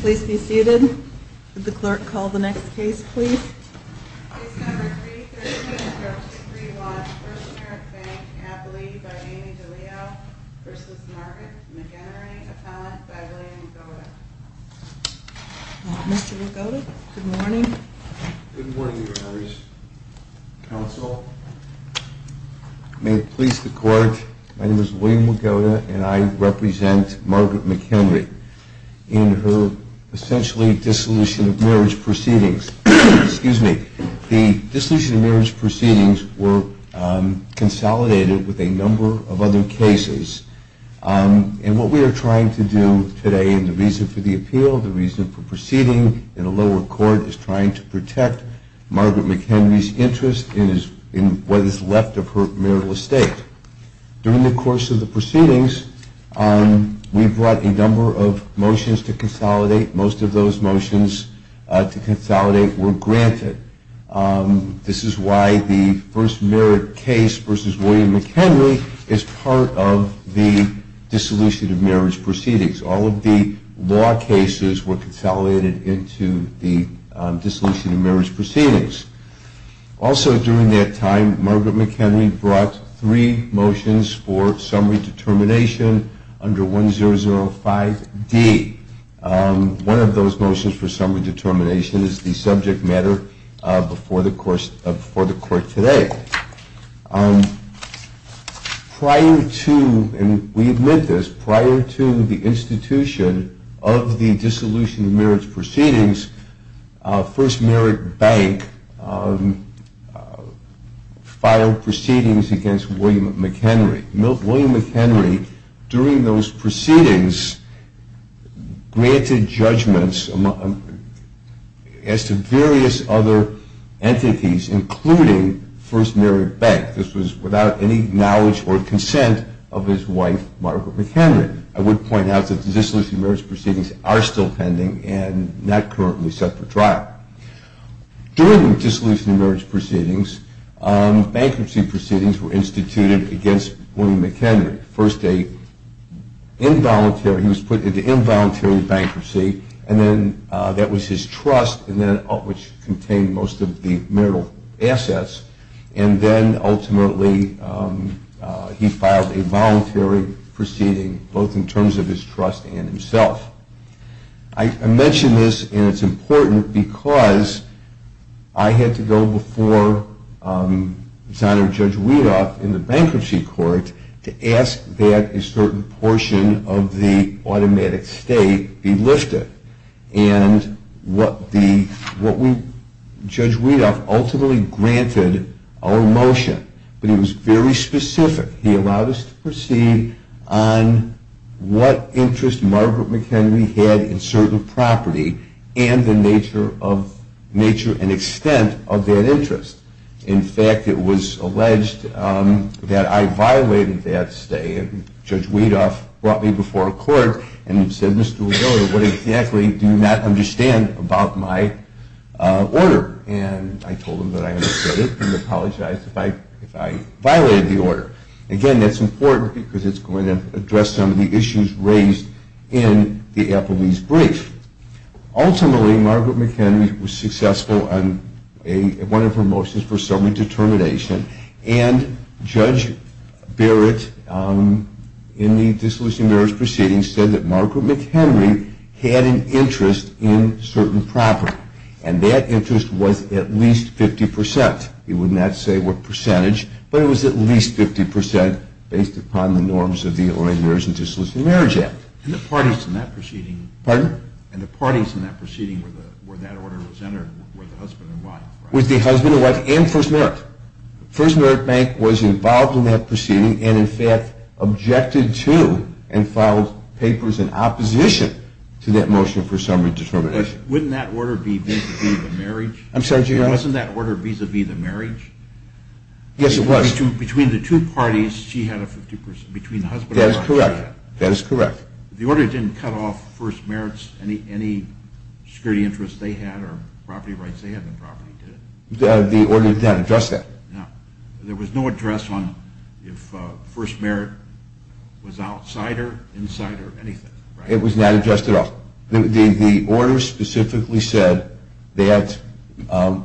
Please be seated. Would the clerk call the next case, please? Case number 337-31, First Merit Bank, Abilene v. Amy DeLeo v. Margaret McEnery, Appellant by William Wigoda. Mr. Wigoda, good morning. Good morning, Your Honors. Counsel, may it please the Court, my name is William Wigoda and I represent Margaret McEnery. In her essentially dissolution of marriage proceedings, the dissolution of marriage proceedings were consolidated with a number of other cases. And what we are trying to do today in the reason for the appeal, the reason for proceeding in a lower court, is trying to protect Margaret McEnery's interest in what is left of her marital estate. During the course of the proceedings, we brought a number of motions to consolidate. Most of those motions to consolidate were granted. This is why the First Merit case v. William McEnery is part of the dissolution of marriage proceedings. All of the law cases were consolidated into the dissolution of marriage proceedings. Also during that time, Margaret McEnery brought three motions for summary determination under 1005D. One of those motions for summary determination is the subject matter before the Court today. Prior to, and we admit this, prior to the institution of the dissolution of marriage proceedings, First Merit Bank filed proceedings against William McEnery. William McEnery, during those proceedings, granted judgments as to various other entities, including First Merit Bank. This was without any knowledge or consent of his wife, Margaret McEnery. I would point out that the dissolution of marriage proceedings are still pending and not currently set for trial. During the dissolution of marriage proceedings, bankruptcy proceedings were instituted against William McEnery. First, he was put into involuntary bankruptcy, and then that was his trust, which contained most of the marital assets. And then, ultimately, he filed a voluntary proceeding, both in terms of his trust and himself. I mention this, and it's important, because I had to go before Senator Judge Weedoff in the bankruptcy court to ask that a certain portion of the automatic state be lifted. And Judge Weedoff ultimately granted our motion, but he was very specific. He allowed us to proceed on what interest Margaret McEnery had in certain property and the nature and extent of that interest. In fact, it was alleged that I violated that stay, and Judge Weedoff brought me before court and said, Mr. Weedoff, what exactly do you not understand about my order? And I told him that I understood it and apologized if I violated the order. Again, that's important, because it's going to address some of the issues raised in the Applebee's brief. Ultimately, Margaret McEnery was successful on one of her motions for summary determination, and Judge Barrett, in the disillusioned marriage proceeding, said that Margaret McEnery had an interest in certain property. And that interest was at least 50%. He would not say what percentage, but it was at least 50% based upon the norms of the Lawyers and Disillusioned Marriage Act. And the parties in that proceeding where that order was entered were the husband and wife, right? First Merit Bank was involved in that proceeding and, in fact, objected to and filed papers in opposition to that motion for summary determination. Wouldn't that order be vis-a-vis the marriage? I'm sorry, do you know that? Wasn't that order vis-a-vis the marriage? Yes, it was. Between the two parties, she had a 50%, between the husband and wife. That is correct. That is correct. The order didn't cut off First Merit's, any security interest they had or property rights they had in the property, did it? The order did not address that. There was no address on if First Merit was outsider, insider, anything, right? It was not addressed at all. The order specifically said that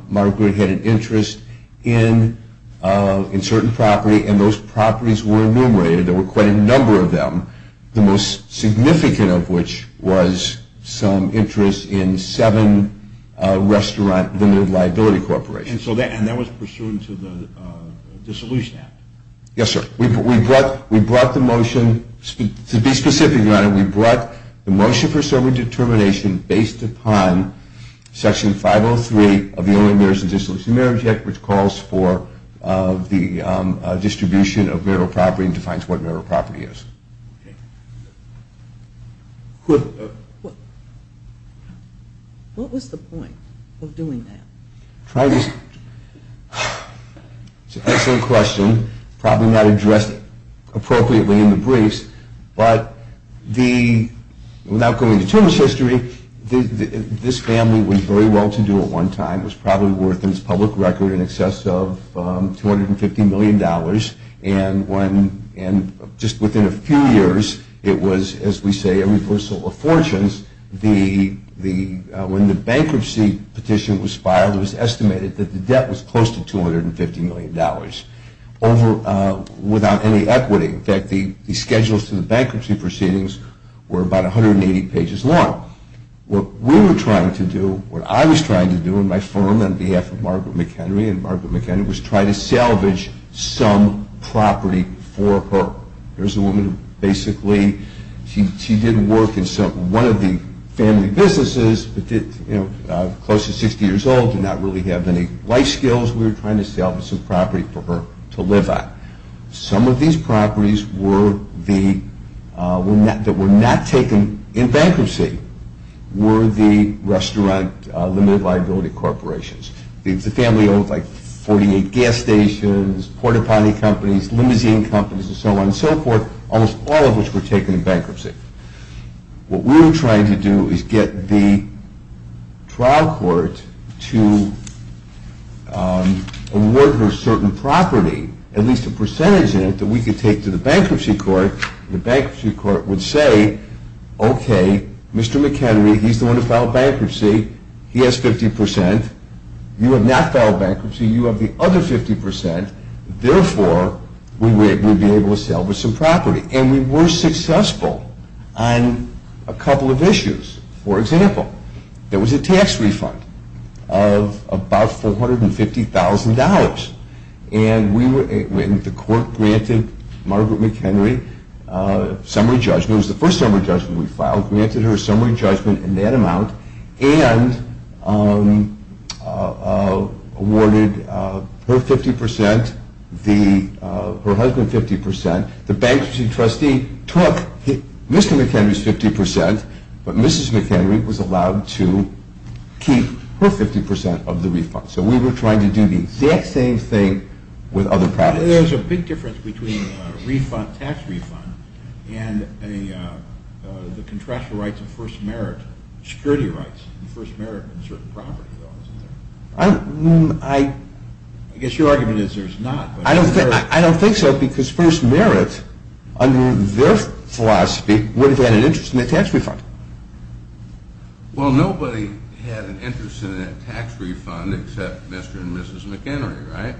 Margaret had an interest in certain property, and those properties were enumerated. There were quite a number of them, the most significant of which was some interest in seven restaurant, the New Liability Corporation. And that was pursuant to the Dissolution Act? Yes, sir. We brought the motion, to be specific, Your Honor, we brought the motion for summary determination based upon Section 503 of the Only Marriages What was the point of doing that? It's an excellent question, probably not addressed appropriately in the briefs, but without going into too much history, this family was very well to do at one time. It was probably worth, in its public record, in excess of $250 million, and just within a few years, it was, as we say, a reversal of fortunes. When the bankruptcy petition was filed, it was estimated that the debt was close to $250 million, without any equity. In fact, the schedules for the bankruptcy proceedings were about 180 pages long. What we were trying to do, what I was trying to do in my firm on behalf of Margaret McHenry, and Margaret McHenry was trying to salvage some property for her. Here's a woman who basically, she did work in one of the family businesses, but close to 60 years old, did not really have any life skills. We were trying to salvage some property for her to live on. Some of these properties that were not taken in bankruptcy were the restaurant limited liability corporations. The family owned like 48 gas stations, port-a-potty companies, limousine companies, and so on and so forth, almost all of which were taken in bankruptcy. What we were trying to do is get the trial court to award her certain property, at least a percentage of it, that we could take to the bankruptcy court. The bankruptcy court would say, okay, Mr. McHenry, he's the one who filed bankruptcy. He has 50%. You have not filed bankruptcy. You have the other 50%. We were successful on a couple of issues. For example, there was a tax refund of about $450,000, and the court granted Margaret McHenry summary judgment. It was the first summary judgment we filed. in that amount and awarded her 50%, her husband 50%. The bankruptcy trustee took Mr. McHenry's 50%, but Mrs. McHenry was allowed to keep her 50% of the refund. So we were trying to do the exact same thing with other properties. There's a big difference between a tax refund and the contractual rights of first merit, security rights of first merit in certain properties. I guess your argument is there's not. I don't think so, because first merit, under their philosophy, would have had an interest in a tax refund. Well, nobody had an interest in a tax refund except Mr. and Mrs. McHenry, right?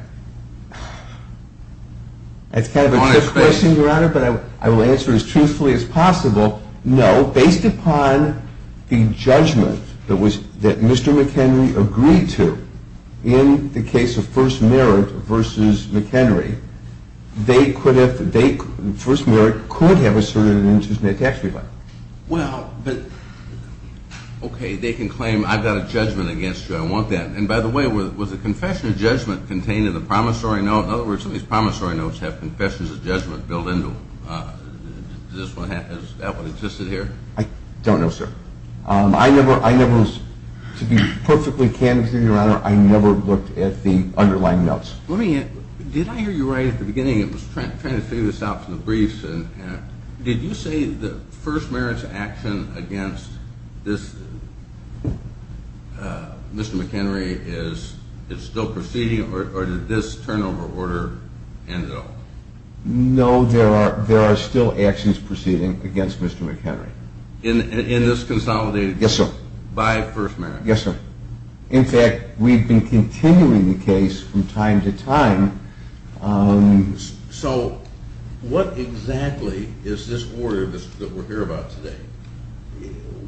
That's kind of a trick question, Your Honor, but I will answer it as truthfully as possible. No, based upon the judgment that Mr. McHenry agreed to in the case of first merit versus McHenry, first merit could have asserted an interest in a tax refund. Well, okay, they can claim I've got a judgment against you. I want that. And by the way, was the confession of judgment contained in the promissory note? In other words, some of these promissory notes have confessions of judgment built into them. Does that one exist in here? I don't know, sir. I never was, to be perfectly candid with you, Your Honor, I never looked at the underlying notes. Let me ask, did I hear you right at the beginning? I was trying to figure this out from the briefs. Did you say that first merit's action against Mr. McHenry is still proceeding or did this turnover order end at all? No, there are still actions proceeding against Mr. McHenry. In this consolidated judgment? Yes, sir. By first merit? Yes, sir. In fact, we've been continuing the case from time to time. So what exactly is this order that we're here about today?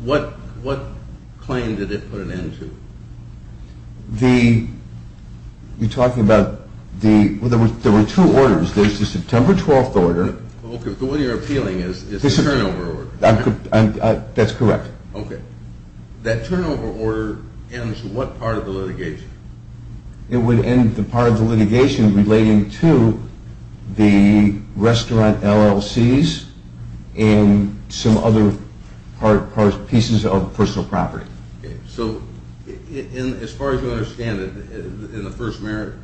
What claim did it put an end to? You're talking about the, well, there were two orders. There's the September 12th order. Okay, but what you're appealing is the turnover order. That's correct. Okay. That turnover order ends what part of the litigation? It would end the part of the litigation relating to the restaurant LLCs and some other pieces of personal property. Okay, so as far as I understand it, in the first merit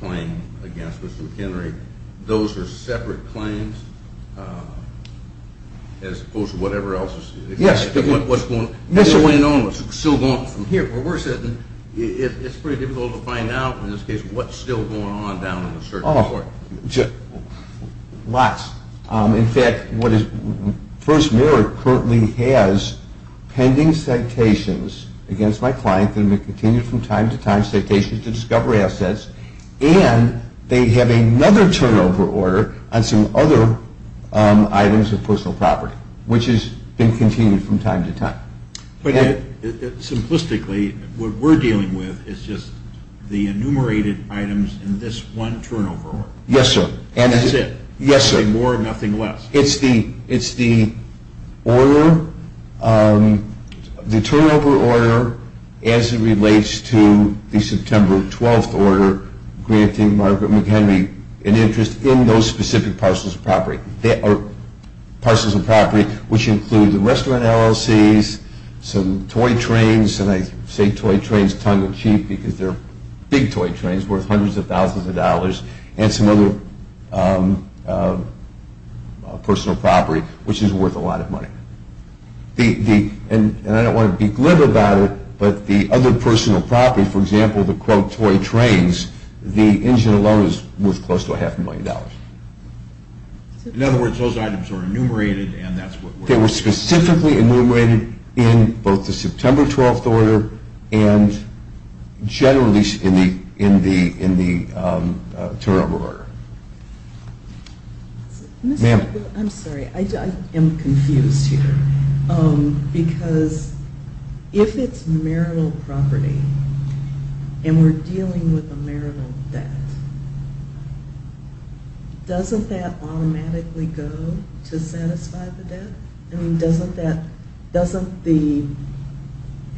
claim against Mr. McHenry, those are separate claims as opposed to whatever else? Yes. What's still going on from here? It's pretty difficult to find out in this case what's still going on down in the circuit court. Lots. In fact, first merit currently has pending citations against my client that have been continued from time to time, citations to discovery assets, and they have another turnover order on some other items of personal property, which has been continued from time to time. But simplistically, what we're dealing with is just the enumerated items in this one turnover order. Yes, sir. That's it? Yes, sir. Nothing more, nothing less? It's the order, the turnover order as it relates to the September 12th order granting Margaret McHenry an interest in those specific parcels of property, which include the restaurant LLCs, some toy trains, and I say toy trains tongue-in-cheek because they're big toy trains worth hundreds of thousands of dollars, and some other personal property, which is worth a lot of money. And I don't want to be glib about it, but the other personal property, for example, the quote toy trains, the engine alone is worth close to a half a million dollars. In other words, those items are enumerated and that's what we're dealing with. They were specifically enumerated in both the September 12th order and generally in the turnover order. Ma'am? I'm sorry. I am confused here because if it's marital property and we're dealing with a marital debt, doesn't that automatically go to satisfy the debt? I mean, doesn't the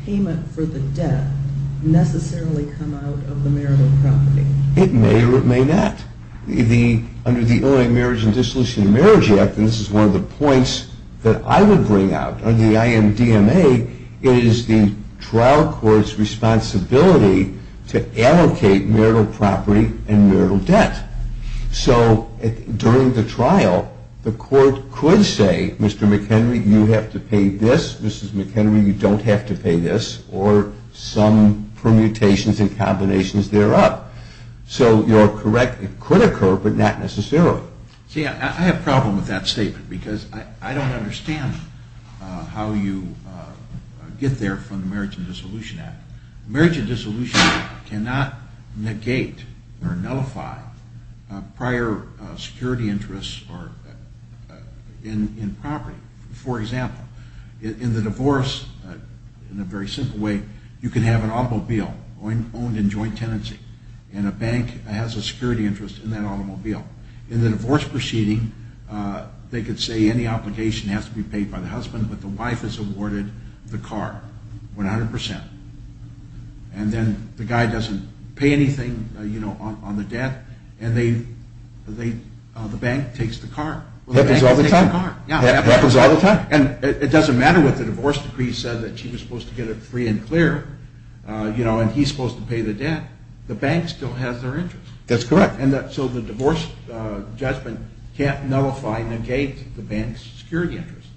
payment for the debt necessarily come out of the marital property? It may or it may not. Under the Illinois Marriage and Dissolution of Marriage Act, and this is one of the points that I would bring out under the IMDMA, it is the trial court's responsibility to allocate marital property and marital debt. So during the trial, the court could say, Mr. McHenry, you have to pay this. Mrs. McHenry, you don't have to pay this, or some permutations and combinations thereof. So you're correct, it could occur, but not necessarily. See, I have a problem with that statement because I don't understand how you get there from the Marriage and Dissolution Act. The Marriage and Dissolution Act cannot negate or nullify prior security interests in property. For example, in the divorce, in a very simple way, you can have an automobile owned in joint tenancy, and a bank has a security interest in that automobile. In the divorce proceeding, they could say any obligation has to be paid by the husband, but the wife is awarded the car, 100%. And then the guy doesn't pay anything on the debt, and the bank takes the car. Happens all the time. Happens all the time. And it doesn't matter what the divorce decree said, that she was supposed to get it free and clear, and he's supposed to pay the debt. The bank still has their interest. That's correct. So the divorce judgment can't nullify, negate the bank's security interest.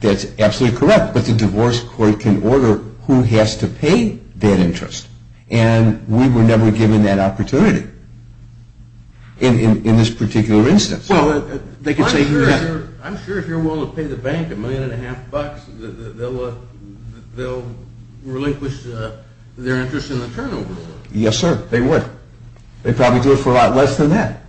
That's absolutely correct, but the divorce court can order who has to pay that interest, and we were never given that opportunity in this particular instance. I'm sure if you're willing to pay the bank a million and a half bucks, they'll relinquish their interest in the turnover. Yes, sir. They would. They'd probably do it for a lot less than that.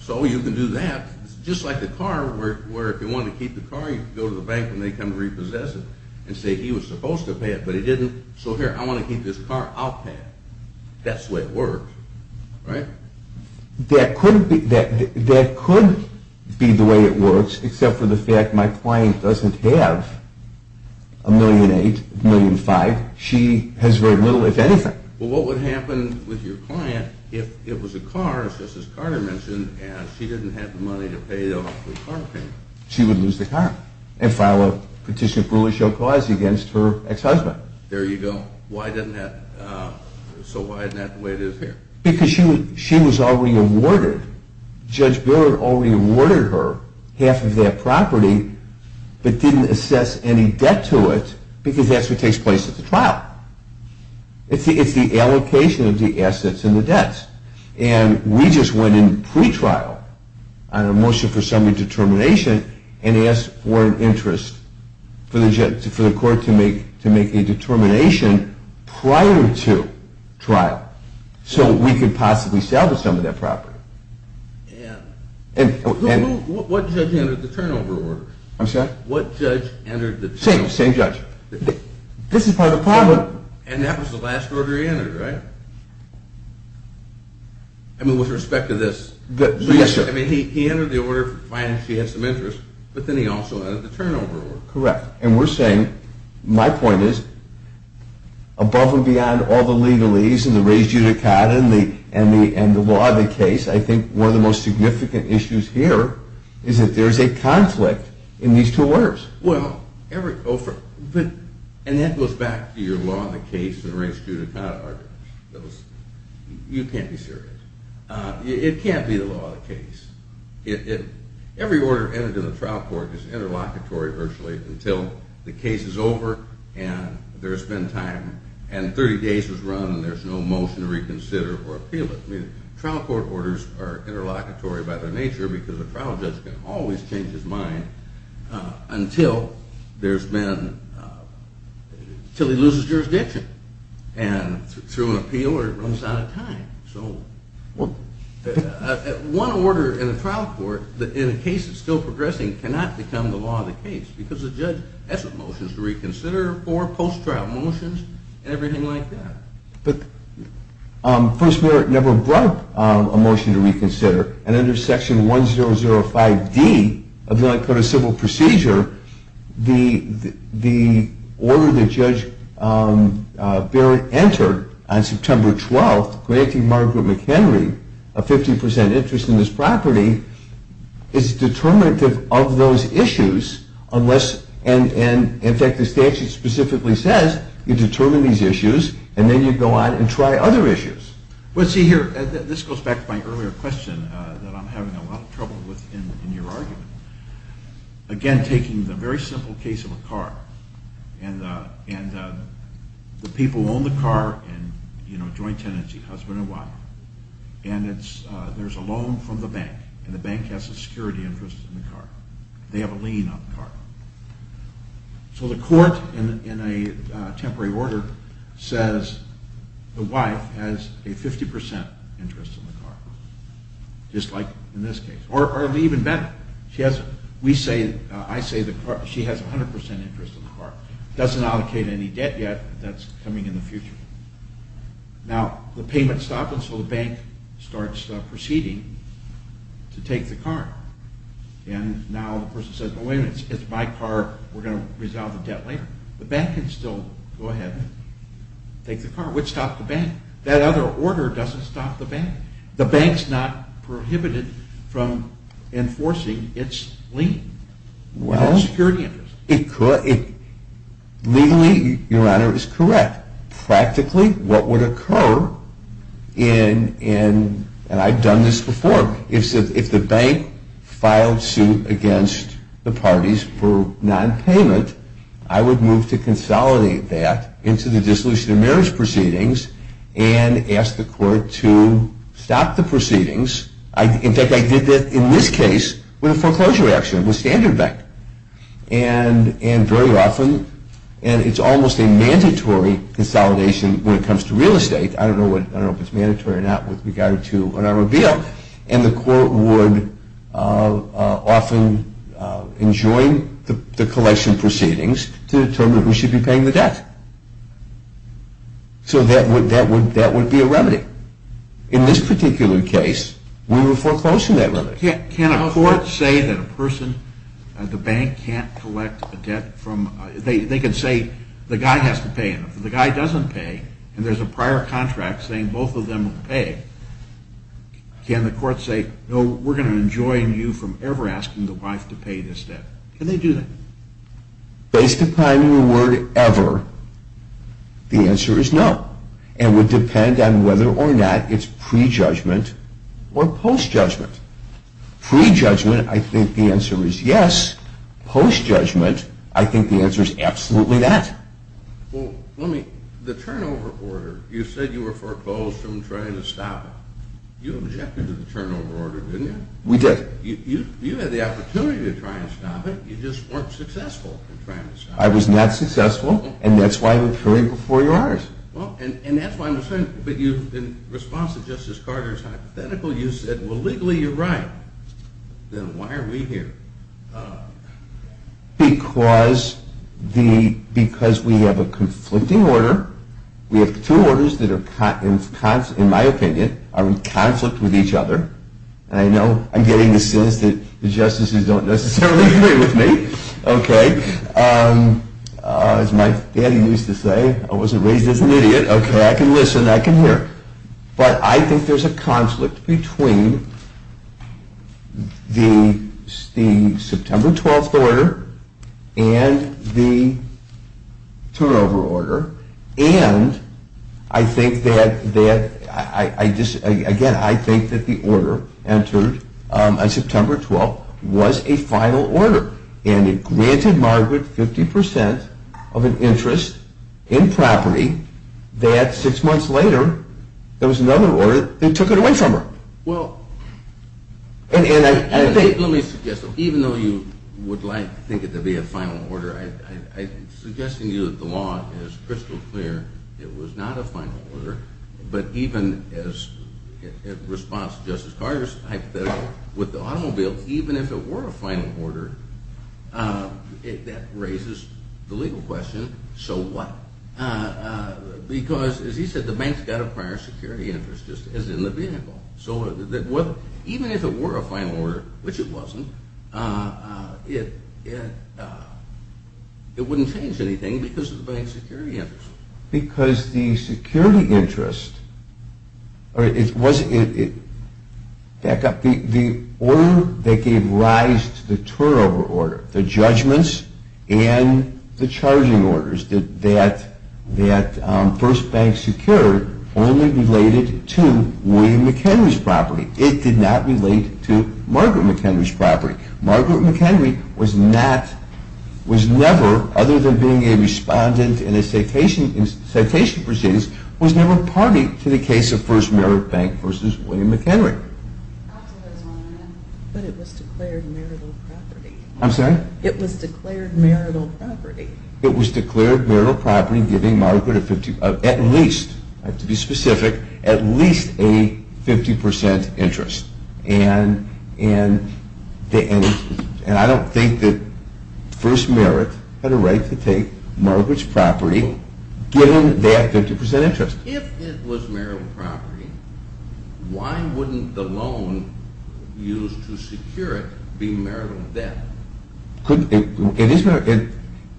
So you can do that. It's just like the car where if you wanted to keep the car, you could go to the bank and they'd come to repossess it and say he was supposed to pay it, but he didn't. So here, I want to keep this car. I'll pay it. That's the way it works, right? That could be the way it works, except for the fact my client doesn't have a million and eight, a million and five. She has very little, if anything. Well, what would happen with your client if it was a car, just as Carter mentioned, and she didn't have the money to pay off the car payment? She would lose the car and file a petition of rule of show cause against her ex-husband. There you go. So why isn't that the way it is here? Because she was already awarded. Judge Bill had already awarded her half of that property but didn't assess any debt to it because that's what takes place at the trial. It's the allocation of the assets and the debts. And we just went in pre-trial on a motion for summary determination and asked for an interest for the court to make a determination prior to trial. So we could possibly sell some of that property. And what judge entered the turnover order? I'm sorry? What judge entered the turnover order? Same judge. This is part of the problem. And that was the last order he entered, right? I mean, with respect to this. Yes, sir. I mean, he entered the order for finance. He had some interest. But then he also entered the turnover order. Correct. And we're saying, my point is, above and beyond all the legalese and the res judicata and the law of the case, I think one of the most significant issues here is that there is a conflict in these two orders. Well, and that goes back to your law of the case and res judicata arguments. You can't be serious. It can't be the law of the case. Every order entered in the trial court is interlocutory virtually until the case is over and there's been time and 30 days has run and there's no motion to reconsider or appeal it. I mean, trial court orders are interlocutory by their nature because a trial judge can always change his mind until he loses jurisdiction and through an appeal or runs out of time. So one order in a trial court in a case that's still progressing cannot become the law of the case because the judge has motions to reconsider or post-trial motions and everything like that. But the First Mayor never brought a motion to reconsider, and under Section 1005D of the United States Code of Civil Procedure, the order that Judge Barrett entered on September 12th granting Margaret McHenry a 50% interest in this property is determinative of those issues unless, and in fact the statute specifically says, you determine these issues and then you go on and try other issues. Well, see here, this goes back to my earlier question that I'm having a lot of trouble with in your argument. Again, taking the very simple case of a car, and the people own the car in joint tenancy, husband and wife, and there's a loan from the bank and the bank has a security interest in the car. They have a lien on the car. So the court in a temporary order says the wife has a 50% interest in the car, just like in this case, or even better. I say she has a 100% interest in the car. Doesn't allocate any debt yet, but that's coming in the future. Now, the payment stopped, and so the bank starts proceeding to take the car. And now the person says, oh wait a minute, it's my car, we're going to resolve the debt later. The bank can still go ahead and take the car, which stopped the bank. That other order doesn't stop the bank. The bank's not prohibited from enforcing its lien. Well, legally, your honor, is correct. Practically, what would occur in, and I've done this before, if the bank filed suit against the parties for nonpayment, I would move to consolidate that into the dissolution of marriage proceedings and ask the court to stop the proceedings. In fact, I did that in this case with a foreclosure action, with Standard Bank. And very often, and it's almost a mandatory consolidation when it comes to real estate. I don't know if it's mandatory or not with regard to an armored vehicle. And the court would often enjoin the collection proceedings to determine who should be paying the debt. So that would be a remedy. In this particular case, we were foreclosing that remedy. Can a court say that a person, the bank, can't collect a debt from, they could say the guy has to pay, and if the guy doesn't pay, and there's a prior contract saying both of them will pay, can the court say, no, we're going to enjoin you from ever asking the wife to pay this debt. Can they do that? Based upon your word, ever, the answer is no. And it would depend on whether or not it's prejudgment or postjudgment. Prejudgment, I think the answer is yes. Postjudgment, I think the answer is absolutely that. Well, let me, the turnover order, you said you were foreclosed from trying to stop it. You objected to the turnover order, didn't you? We did. You said you had the opportunity to try and stop it. You just weren't successful in trying to stop it. I was not successful, and that's why I'm appearing before your honors. And that's why I'm saying, but in response to Justice Carter's hypothetical, you said, well, legally you're right. Then why are we here? Because we have a conflicting order. We have two orders that are, in my opinion, are in conflict with each other. And I know I'm getting the sense that the justices don't necessarily agree with me. Okay. As my daddy used to say, I wasn't raised as an idiot. Okay. I can listen. I can hear. But I think there's a conflict between the September 12th order and the turnover order. And I think that, again, I think that the order entered on September 12th was a final order. And it granted Margaret 50% of an interest in property. That six months later, there was another order that took it away from her. Well, let me suggest, even though you would like to think it to be a final order, I'm suggesting to you that the law is crystal clear. It was not a final order. But even in response to Justice Carter's hypothetical, with the automobile, even if it were a final order, that raises the legal question, so what? Because, as he said, the bank's got a prior security interest, just as in the vehicle. Even if it were a final order, which it wasn't, it wouldn't change anything because of the bank's security interest. Because the security interest, the order that gave rise to the turnover order, the judgments and the charging orders that First Bank secured only related to William McHenry's property. It did not relate to Margaret McHenry's property. Margaret McHenry was never, other than being a respondent in a citation proceedings, was never party to the case of First Merit Bank v. William McHenry. But it was declared marital property. I'm sorry? It was declared marital property. It was declared marital property, giving Margaret at least, I have to be specific, at least a 50% interest. And I don't think that First Merit had a right to take Margaret's property, given that 50% interest. If it was marital property, why wouldn't the loan used to secure it be marital debt? It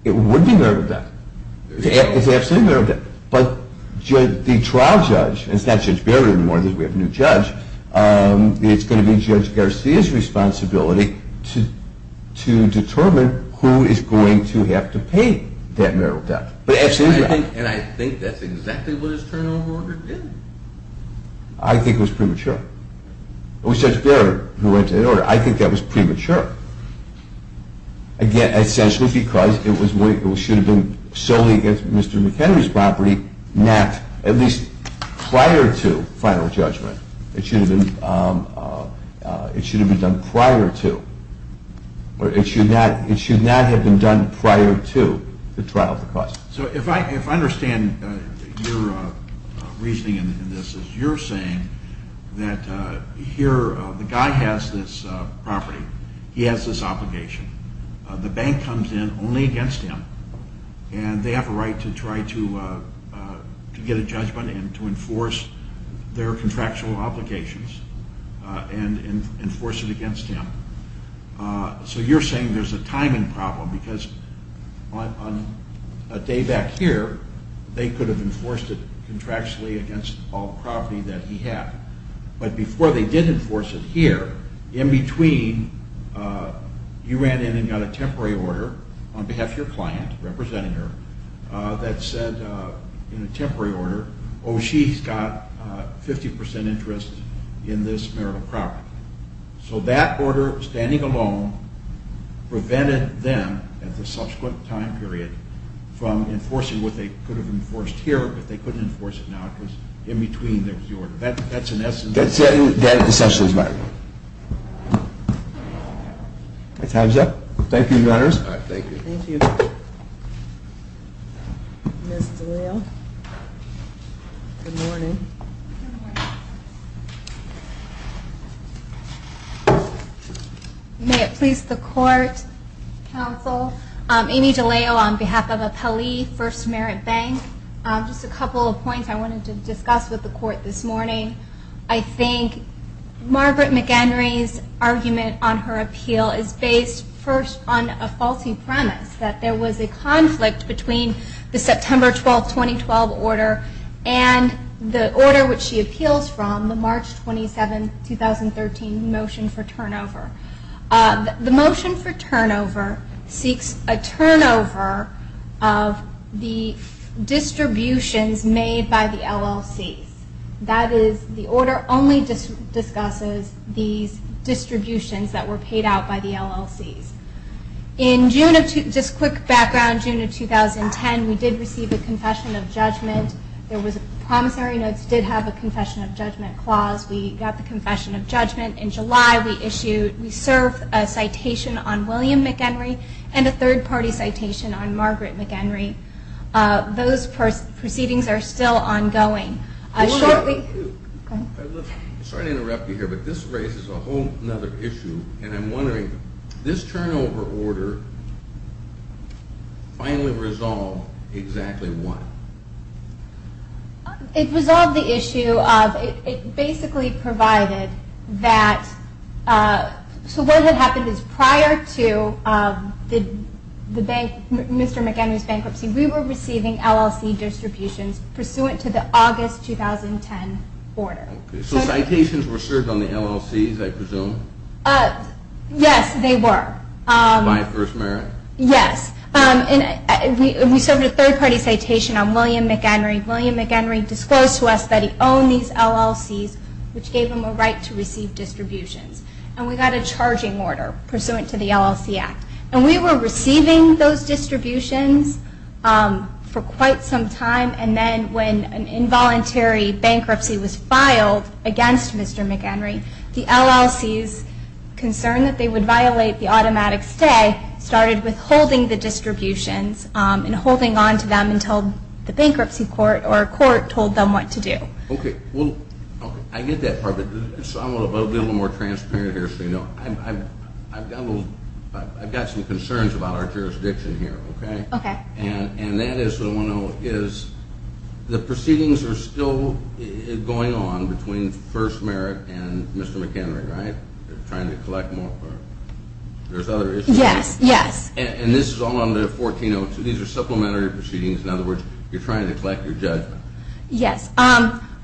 would be marital debt. It's absolutely marital debt. But the trial judge, it's not Judge Barrett anymore, we have a new judge, it's going to be Judge Garcia's responsibility to determine who is going to have to pay that marital debt. And I think that's exactly what his turnover order did. I think it was premature. It was Judge Barrett who wrote that order. I think that was premature. Again, essentially because it should have been solely against Mr. McHenry's property, not at least prior to final judgment. It should have been done prior to. It should not have been done prior to the trial of the cost. So if I understand your reasoning in this, you're saying that here the guy has this property, he has this obligation, the bank comes in only against him, and they have a right to try to get a judgment and to enforce their contractual obligations and enforce it against him. So you're saying there's a timing problem because on a day back here, they could have enforced it contractually against all the property that he had. But before they did enforce it here, in between, you ran in and got a temporary order on behalf of your client, representing her, that said in a temporary order, oh, she's got 50% interest in this marital property. So that order, standing alone, prevented them at the subsequent time period from enforcing what they could have enforced here, but they couldn't enforce it now because in between there was the order. That's in essence. That's essentially right. Time's up. Thank you, Your Honors. Thank you. Thank you. Ms. DeLeo. Good morning. Good morning. May it please the Court, Counsel, Amy DeLeo on behalf of Appellee First Merit Bank. Just a couple of points I wanted to discuss with the Court this morning. I think Margaret McHenry's argument on her appeal is based first on a faulty premise, that there was a conflict between the September 12, 2012 order and the order which she appeals from, the March 27, 2013 motion for turnover. The motion for turnover seeks a turnover of the distributions made by the LLCs. That is, the order only discusses these distributions that were paid out by the LLCs. In June of 2010, we did receive a confession of judgment. The promissory notes did have a confession of judgment clause. We got the confession of judgment in July. We served a citation on William McHenry and a third-party citation on Margaret McHenry. Those proceedings are still ongoing. I'm sorry to interrupt you here, but this raises a whole other issue, and I'm wondering, this turnover order finally resolved exactly what? It resolved the issue of, it basically provided that, so what had happened is prior to Mr. McHenry's bankruptcy, we were receiving LLC distributions pursuant to the August 2010 order. So citations were served on the LLCs, I presume? Yes, they were. By First Merit? Yes. And we served a third-party citation on William McHenry. William McHenry disclosed to us that he owned these LLCs, which gave him a right to receive distributions. And we got a charging order pursuant to the LLC Act. And we were receiving those distributions for quite some time, and then when an involuntary bankruptcy was filed against Mr. McHenry, the LLC's concern that they would violate the automatic stay started withholding the distributions and holding onto them until the bankruptcy court or court told them what to do. Okay. Well, I get that part, but I want to be a little more transparent here so you know. I've got some concerns about our jurisdiction here, okay? Okay. And that is what I want to know is the proceedings are still going on between First Merit and Mr. McHenry, right? They're trying to collect more? There's other issues? Yes, yes. And this is all under 1402? These are supplementary proceedings? In other words, you're trying to collect your judgment? Yes.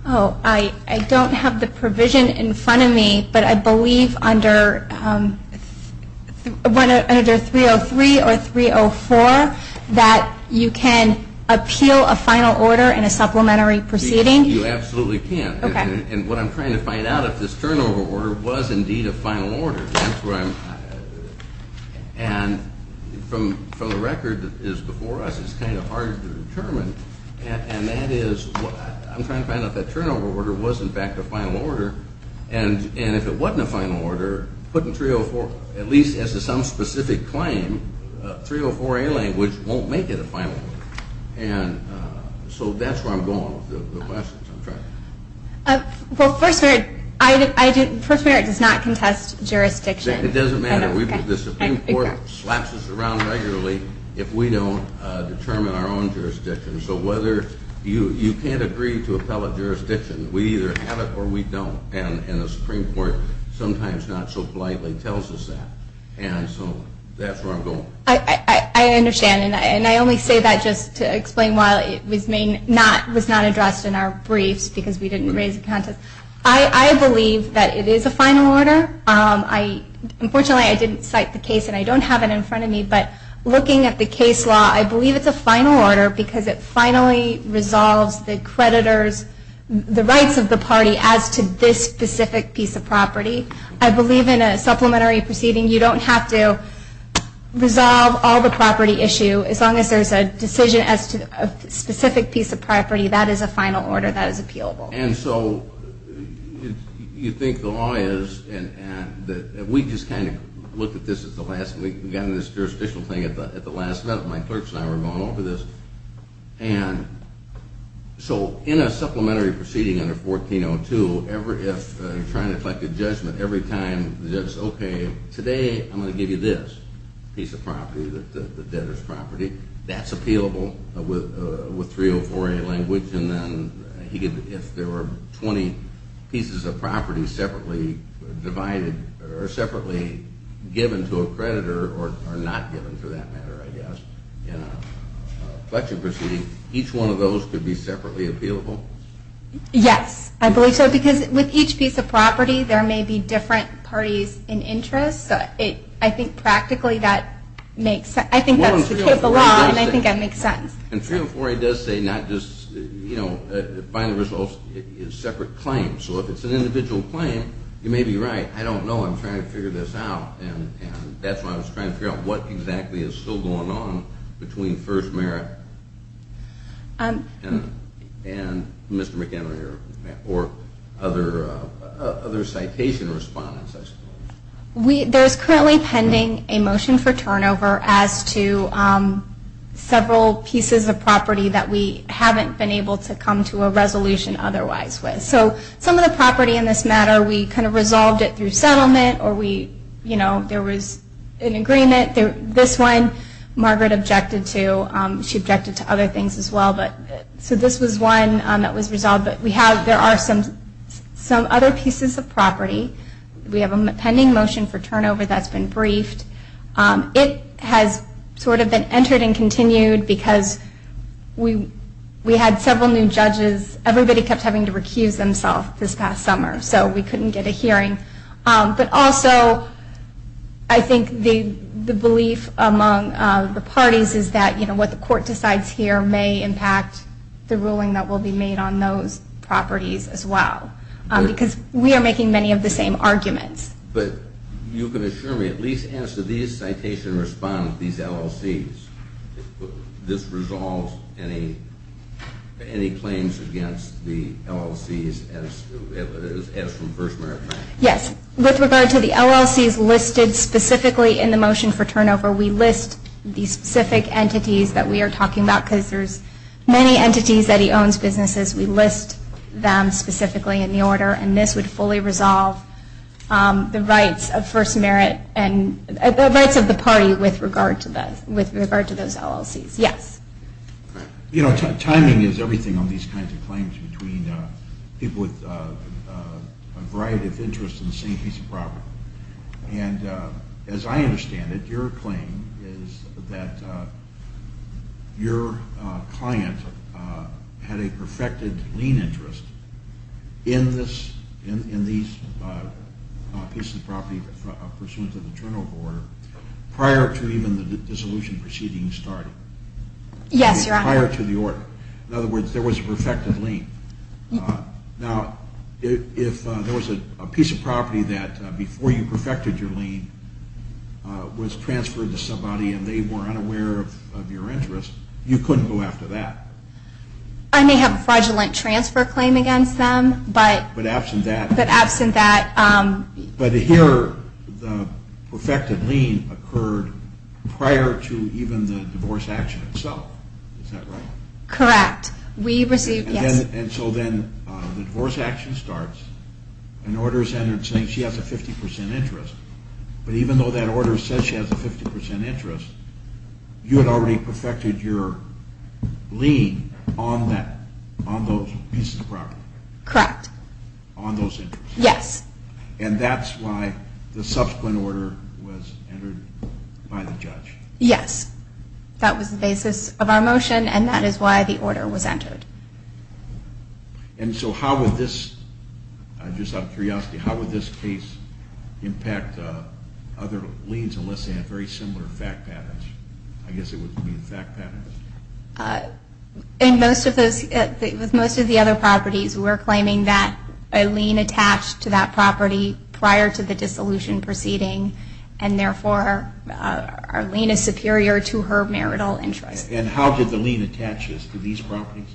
Oh, I don't have the provision in front of me, but I believe under 303 or 304 that you can appeal a final order in a supplementary proceeding? You absolutely can. Okay. And what I'm trying to find out is if this turnover order was indeed a final order. And from the record that is before us, it's kind of hard to determine. And that is what I'm trying to find out. That turnover order was, in fact, a final order. And if it wasn't a final order, put in 304. At least as to some specific claim, 304A language won't make it a final order. And so that's where I'm going with the questions. Well, First Merit does not contest jurisdiction. It doesn't matter. The Supreme Court slaps us around regularly if we don't determine our own jurisdiction. So you can't agree to appellate jurisdiction. We either have it or we don't. And the Supreme Court sometimes not so politely tells us that. And so that's where I'm going. I understand. And I only say that just to explain why it was not addressed in our briefs because we didn't raise a contest. I believe that it is a final order. Unfortunately, I didn't cite the case, and I don't have it in front of me. But looking at the case law, I believe it's a final order because it finally resolves the creditor's, the rights of the party as to this specific piece of property. I believe in a supplementary proceeding, you don't have to resolve all the property issue. As long as there's a decision as to a specific piece of property, that is a final order that is appealable. And so you think the law is, and we just kind of looked at this as the last, we got into this jurisdictional thing at the last, my clerks and I were going over this. And so in a supplementary proceeding under 1402, if you're trying to collect a judgment, every time the judge says, okay, today I'm going to give you this piece of property, the debtor's property, that's appealable with 304A language. And then if there were 20 pieces of property separately divided or separately given to a creditor or not given for that matter, I guess, in a collection proceeding, each one of those could be separately appealable? Yes, I believe so, because with each piece of property, there may be different parties in interest. So I think practically that makes sense. I think that's the case of the law, and I think that makes sense. And 304A does say not just, you know, final results, it's a separate claim. So if it's an individual claim, you may be right. I don't know. I'm trying to figure this out, and that's why I was trying to figure out what exactly is still going on between First Merit and Mr. McEnany or other citation respondents, I suppose. There's currently pending a motion for turnover as to several pieces of property that we haven't been able to come to a resolution otherwise with. So some of the property in this matter, we kind of resolved it through settlement, or there was an agreement. This one, Margaret objected to. She objected to other things as well. So this was one that was resolved. But there are some other pieces of property. We have a pending motion for turnover that's been briefed. It has sort of been entered and continued because we had several new judges. Everybody kept having to recuse themselves this past summer, so we couldn't get a hearing. But also I think the belief among the parties is that, you know, what the court decides here may impact the ruling that will be made on those properties as well, because we are making many of the same arguments. But you can assure me at least as to these citation respondents, these LLCs, this resolves any claims against the LLCs as to First Merit? Yes. With regard to the LLCs listed specifically in the motion for turnover, we list the specific entities that we are talking about because there's many entities that he owns businesses. We list them specifically in the order, and this would fully resolve the rights of First Merit and the rights of the party with regard to those LLCs. Yes. You know, timing is everything on these kinds of claims between people with a variety of interests in the same piece of property. And as I understand it, your claim is that your client had a perfected lien interest in these pieces of property pursuant to the turnover order prior to even the dissolution proceedings starting. Yes, Your Honor. Prior to the order. Now, if there was a piece of property that before you perfected your lien was transferred to somebody and they were unaware of your interest, you couldn't go after that. I may have a fraudulent transfer claim against them, but absent that. But here the perfected lien occurred prior to even the divorce action itself. Is that right? Correct. We received, yes. And so then the divorce action starts, an order is entered saying she has a 50% interest, but even though that order says she has a 50% interest, you had already perfected your lien on that, on those pieces of property. Correct. On those interests. Yes. And that's why the subsequent order was entered by the judge. Yes. That was the basis of our motion, and that is why the order was entered. And so how would this, just out of curiosity, how would this case impact other liens unless they had very similar fact patterns? I guess it would mean fact patterns. In most of those, with most of the other properties, we're claiming that a lien attached to that property prior to the dissolution proceeding and therefore our lien is superior to her marital interest. And how did the lien attach to these properties?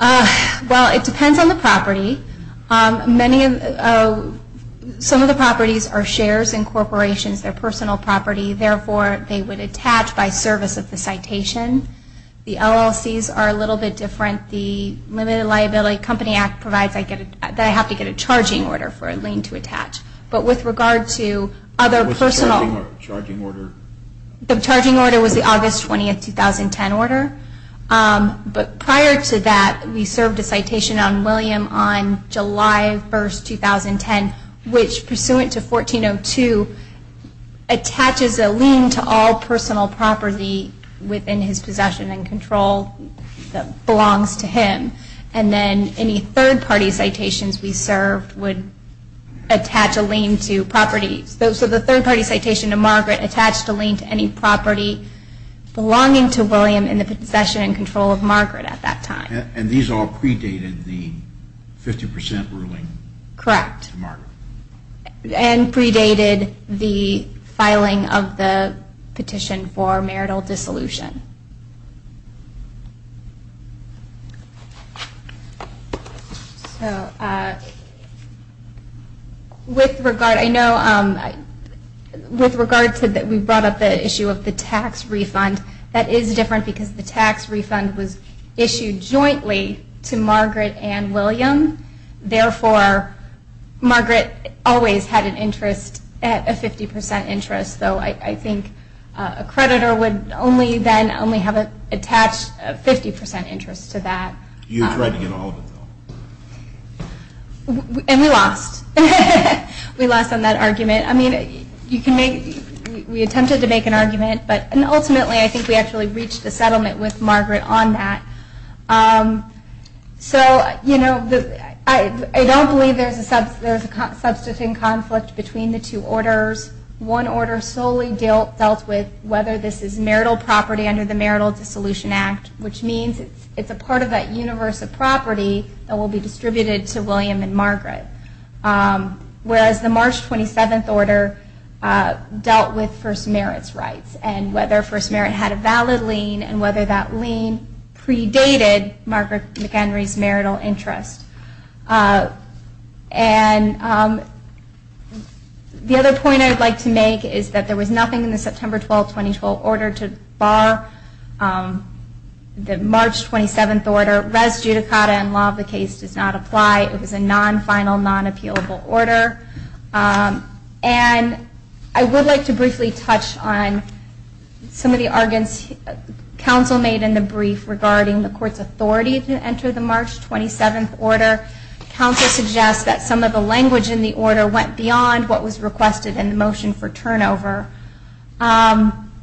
Well, it depends on the property. Some of the properties are shares in corporations, their personal property, therefore they would attach by service of the citation. The LLCs are a little bit different. The Limited Liability Company Act provides that I have to get a charging order for a lien to attach. But with regard to other personal. What's the charging order? The charging order was the August 20, 2010 order. But prior to that, we served a citation on William on July 1, 2010, which pursuant to 1402, attaches a lien to all personal property within his possession and control that belongs to him. And then any third-party citations we served would attach a lien to properties. So the third-party citation to Margaret attached a lien to any property belonging to William in the possession and control of Margaret at that time. And these all predated the 50% ruling? Correct. To Margaret. And predated the filing of the petition for marital dissolution. So with regard to that, we brought up the issue of the tax refund. That is different because the tax refund was issued jointly to Margaret and William. Therefore, Margaret always had an interest, a 50% interest, though I think a creditor would only then have attached a 50% interest to that. You were trading in all of it, though. And we lost. We lost on that argument. I mean, we attempted to make an argument, but ultimately I think we actually reached a settlement with Margaret on that. So, you know, I don't believe there's a substantive conflict between the two orders. One order solely dealt with whether this is marital property under the Marital Dissolution Act, which means it's a part of that universe of property that will be distributed to William and Margaret. Whereas the March 27th order dealt with First Merit's rights and whether First Merit had a valid lien and whether that lien predated Margaret McHenry's marital interest. And the other point I would like to make is that there was nothing in the September 12, 2012 order to bar the March 27th order. Res judicata and law of the case does not apply. It was a non-final, non-appealable order. And I would like to briefly touch on some of the arguments council made in the brief regarding the court's authority to enter the March 27th order. Council suggests that some of the language in the order went beyond what was requested in the motion for turnover.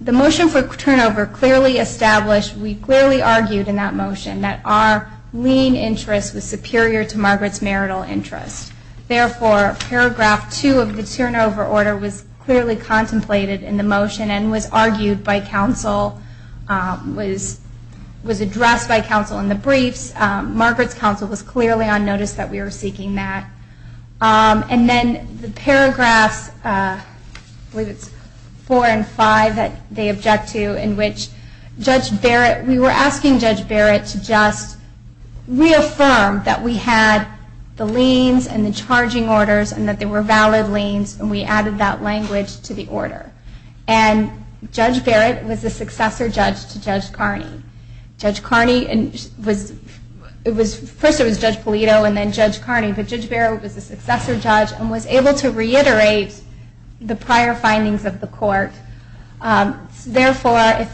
The motion for turnover clearly established, we clearly argued in that motion, that our lien interest was superior to Margaret's marital interest. Therefore, paragraph 2 of the turnover order was clearly contemplated in the motion and was argued by council, was addressed by council in the briefs. Margaret's council was clearly on notice that we were seeking that. And then the paragraphs 4 and 5 that they object to in which Judge Barrett, we were asking Judge Barrett to just reaffirm that we had the liens and the charging orders and that they were valid liens and we added that language to the order. And Judge Barrett was the successor judge to Judge Carney. Judge Carney was, first it was Judge Polito and then Judge Carney, but Judge Barrett was the successor judge and was able to reiterate the prior findings of the court. Therefore,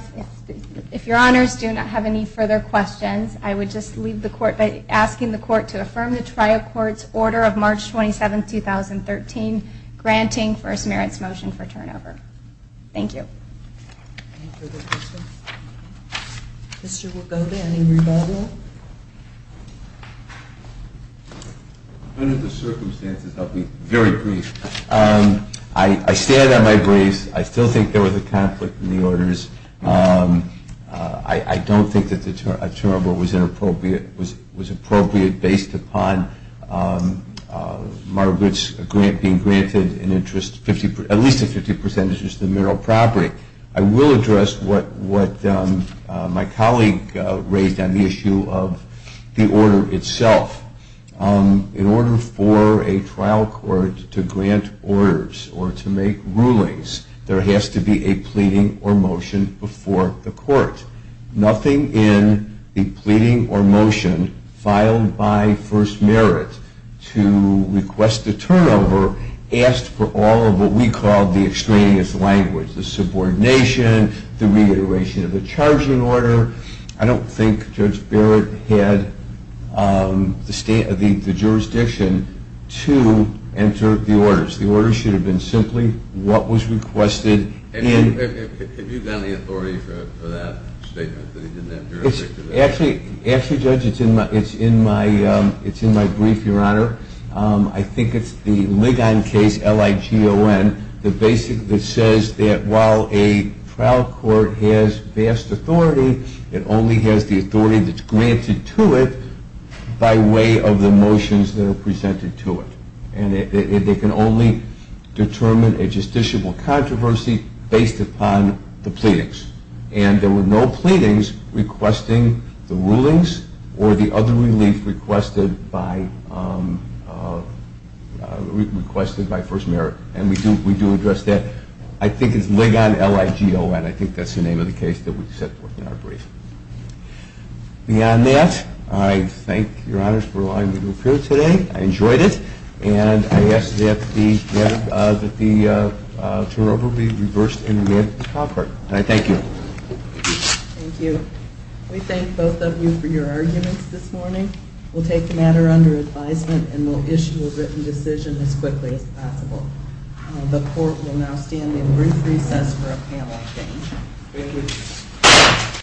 if your honors do not have any further questions, I would just leave the court by asking the court to affirm the trial court's order of March 27, 2013, granting First Merit's motion for turnover. Thank you. Mr. Wacoba, any rebuttal? Under the circumstances, I'll be very brief. I stand on my grace. I still think there was a conflict in the orders. I don't think that the turnover was inappropriate, based upon Margaret's grant being granted at least a 50% interest in mineral property. I will address what my colleague raised on the issue of the order itself. In order for a trial court to grant orders or to make rulings, there has to be a pleading or motion before the court. Nothing in the pleading or motion filed by First Merit to request a turnover asked for all of what we call the extraneous language, the subordination, the reiteration of the charging order. I don't think Judge Barrett had the jurisdiction to enter the orders. The orders should have been simply what was requested. Have you gotten the authority for that statement? Actually, Judge, it's in my brief, Your Honor. I think it's the Ligon case, L-I-G-O-N, the basic that says that while a trial court has vast authority, it only has the authority that's granted to it by way of the motions that are presented to it. And it can only determine a justiciable controversy based upon the pleadings. And there were no pleadings requesting the rulings or the other relief requested by First Merit. And we do address that. I think it's Ligon, L-I-G-O-N. I think that's the name of the case that we set forth in our brief. Beyond that, I thank Your Honors for allowing me to appear today. I enjoyed it. And I ask that the turnover be reversed in advance of this conference. And I thank you. Thank you. We thank both of you for your arguments this morning. We'll take the matter under advisement and we'll issue a written decision as quickly as possible. The Court will now stand in brief recess for a panel of 10. Thank you.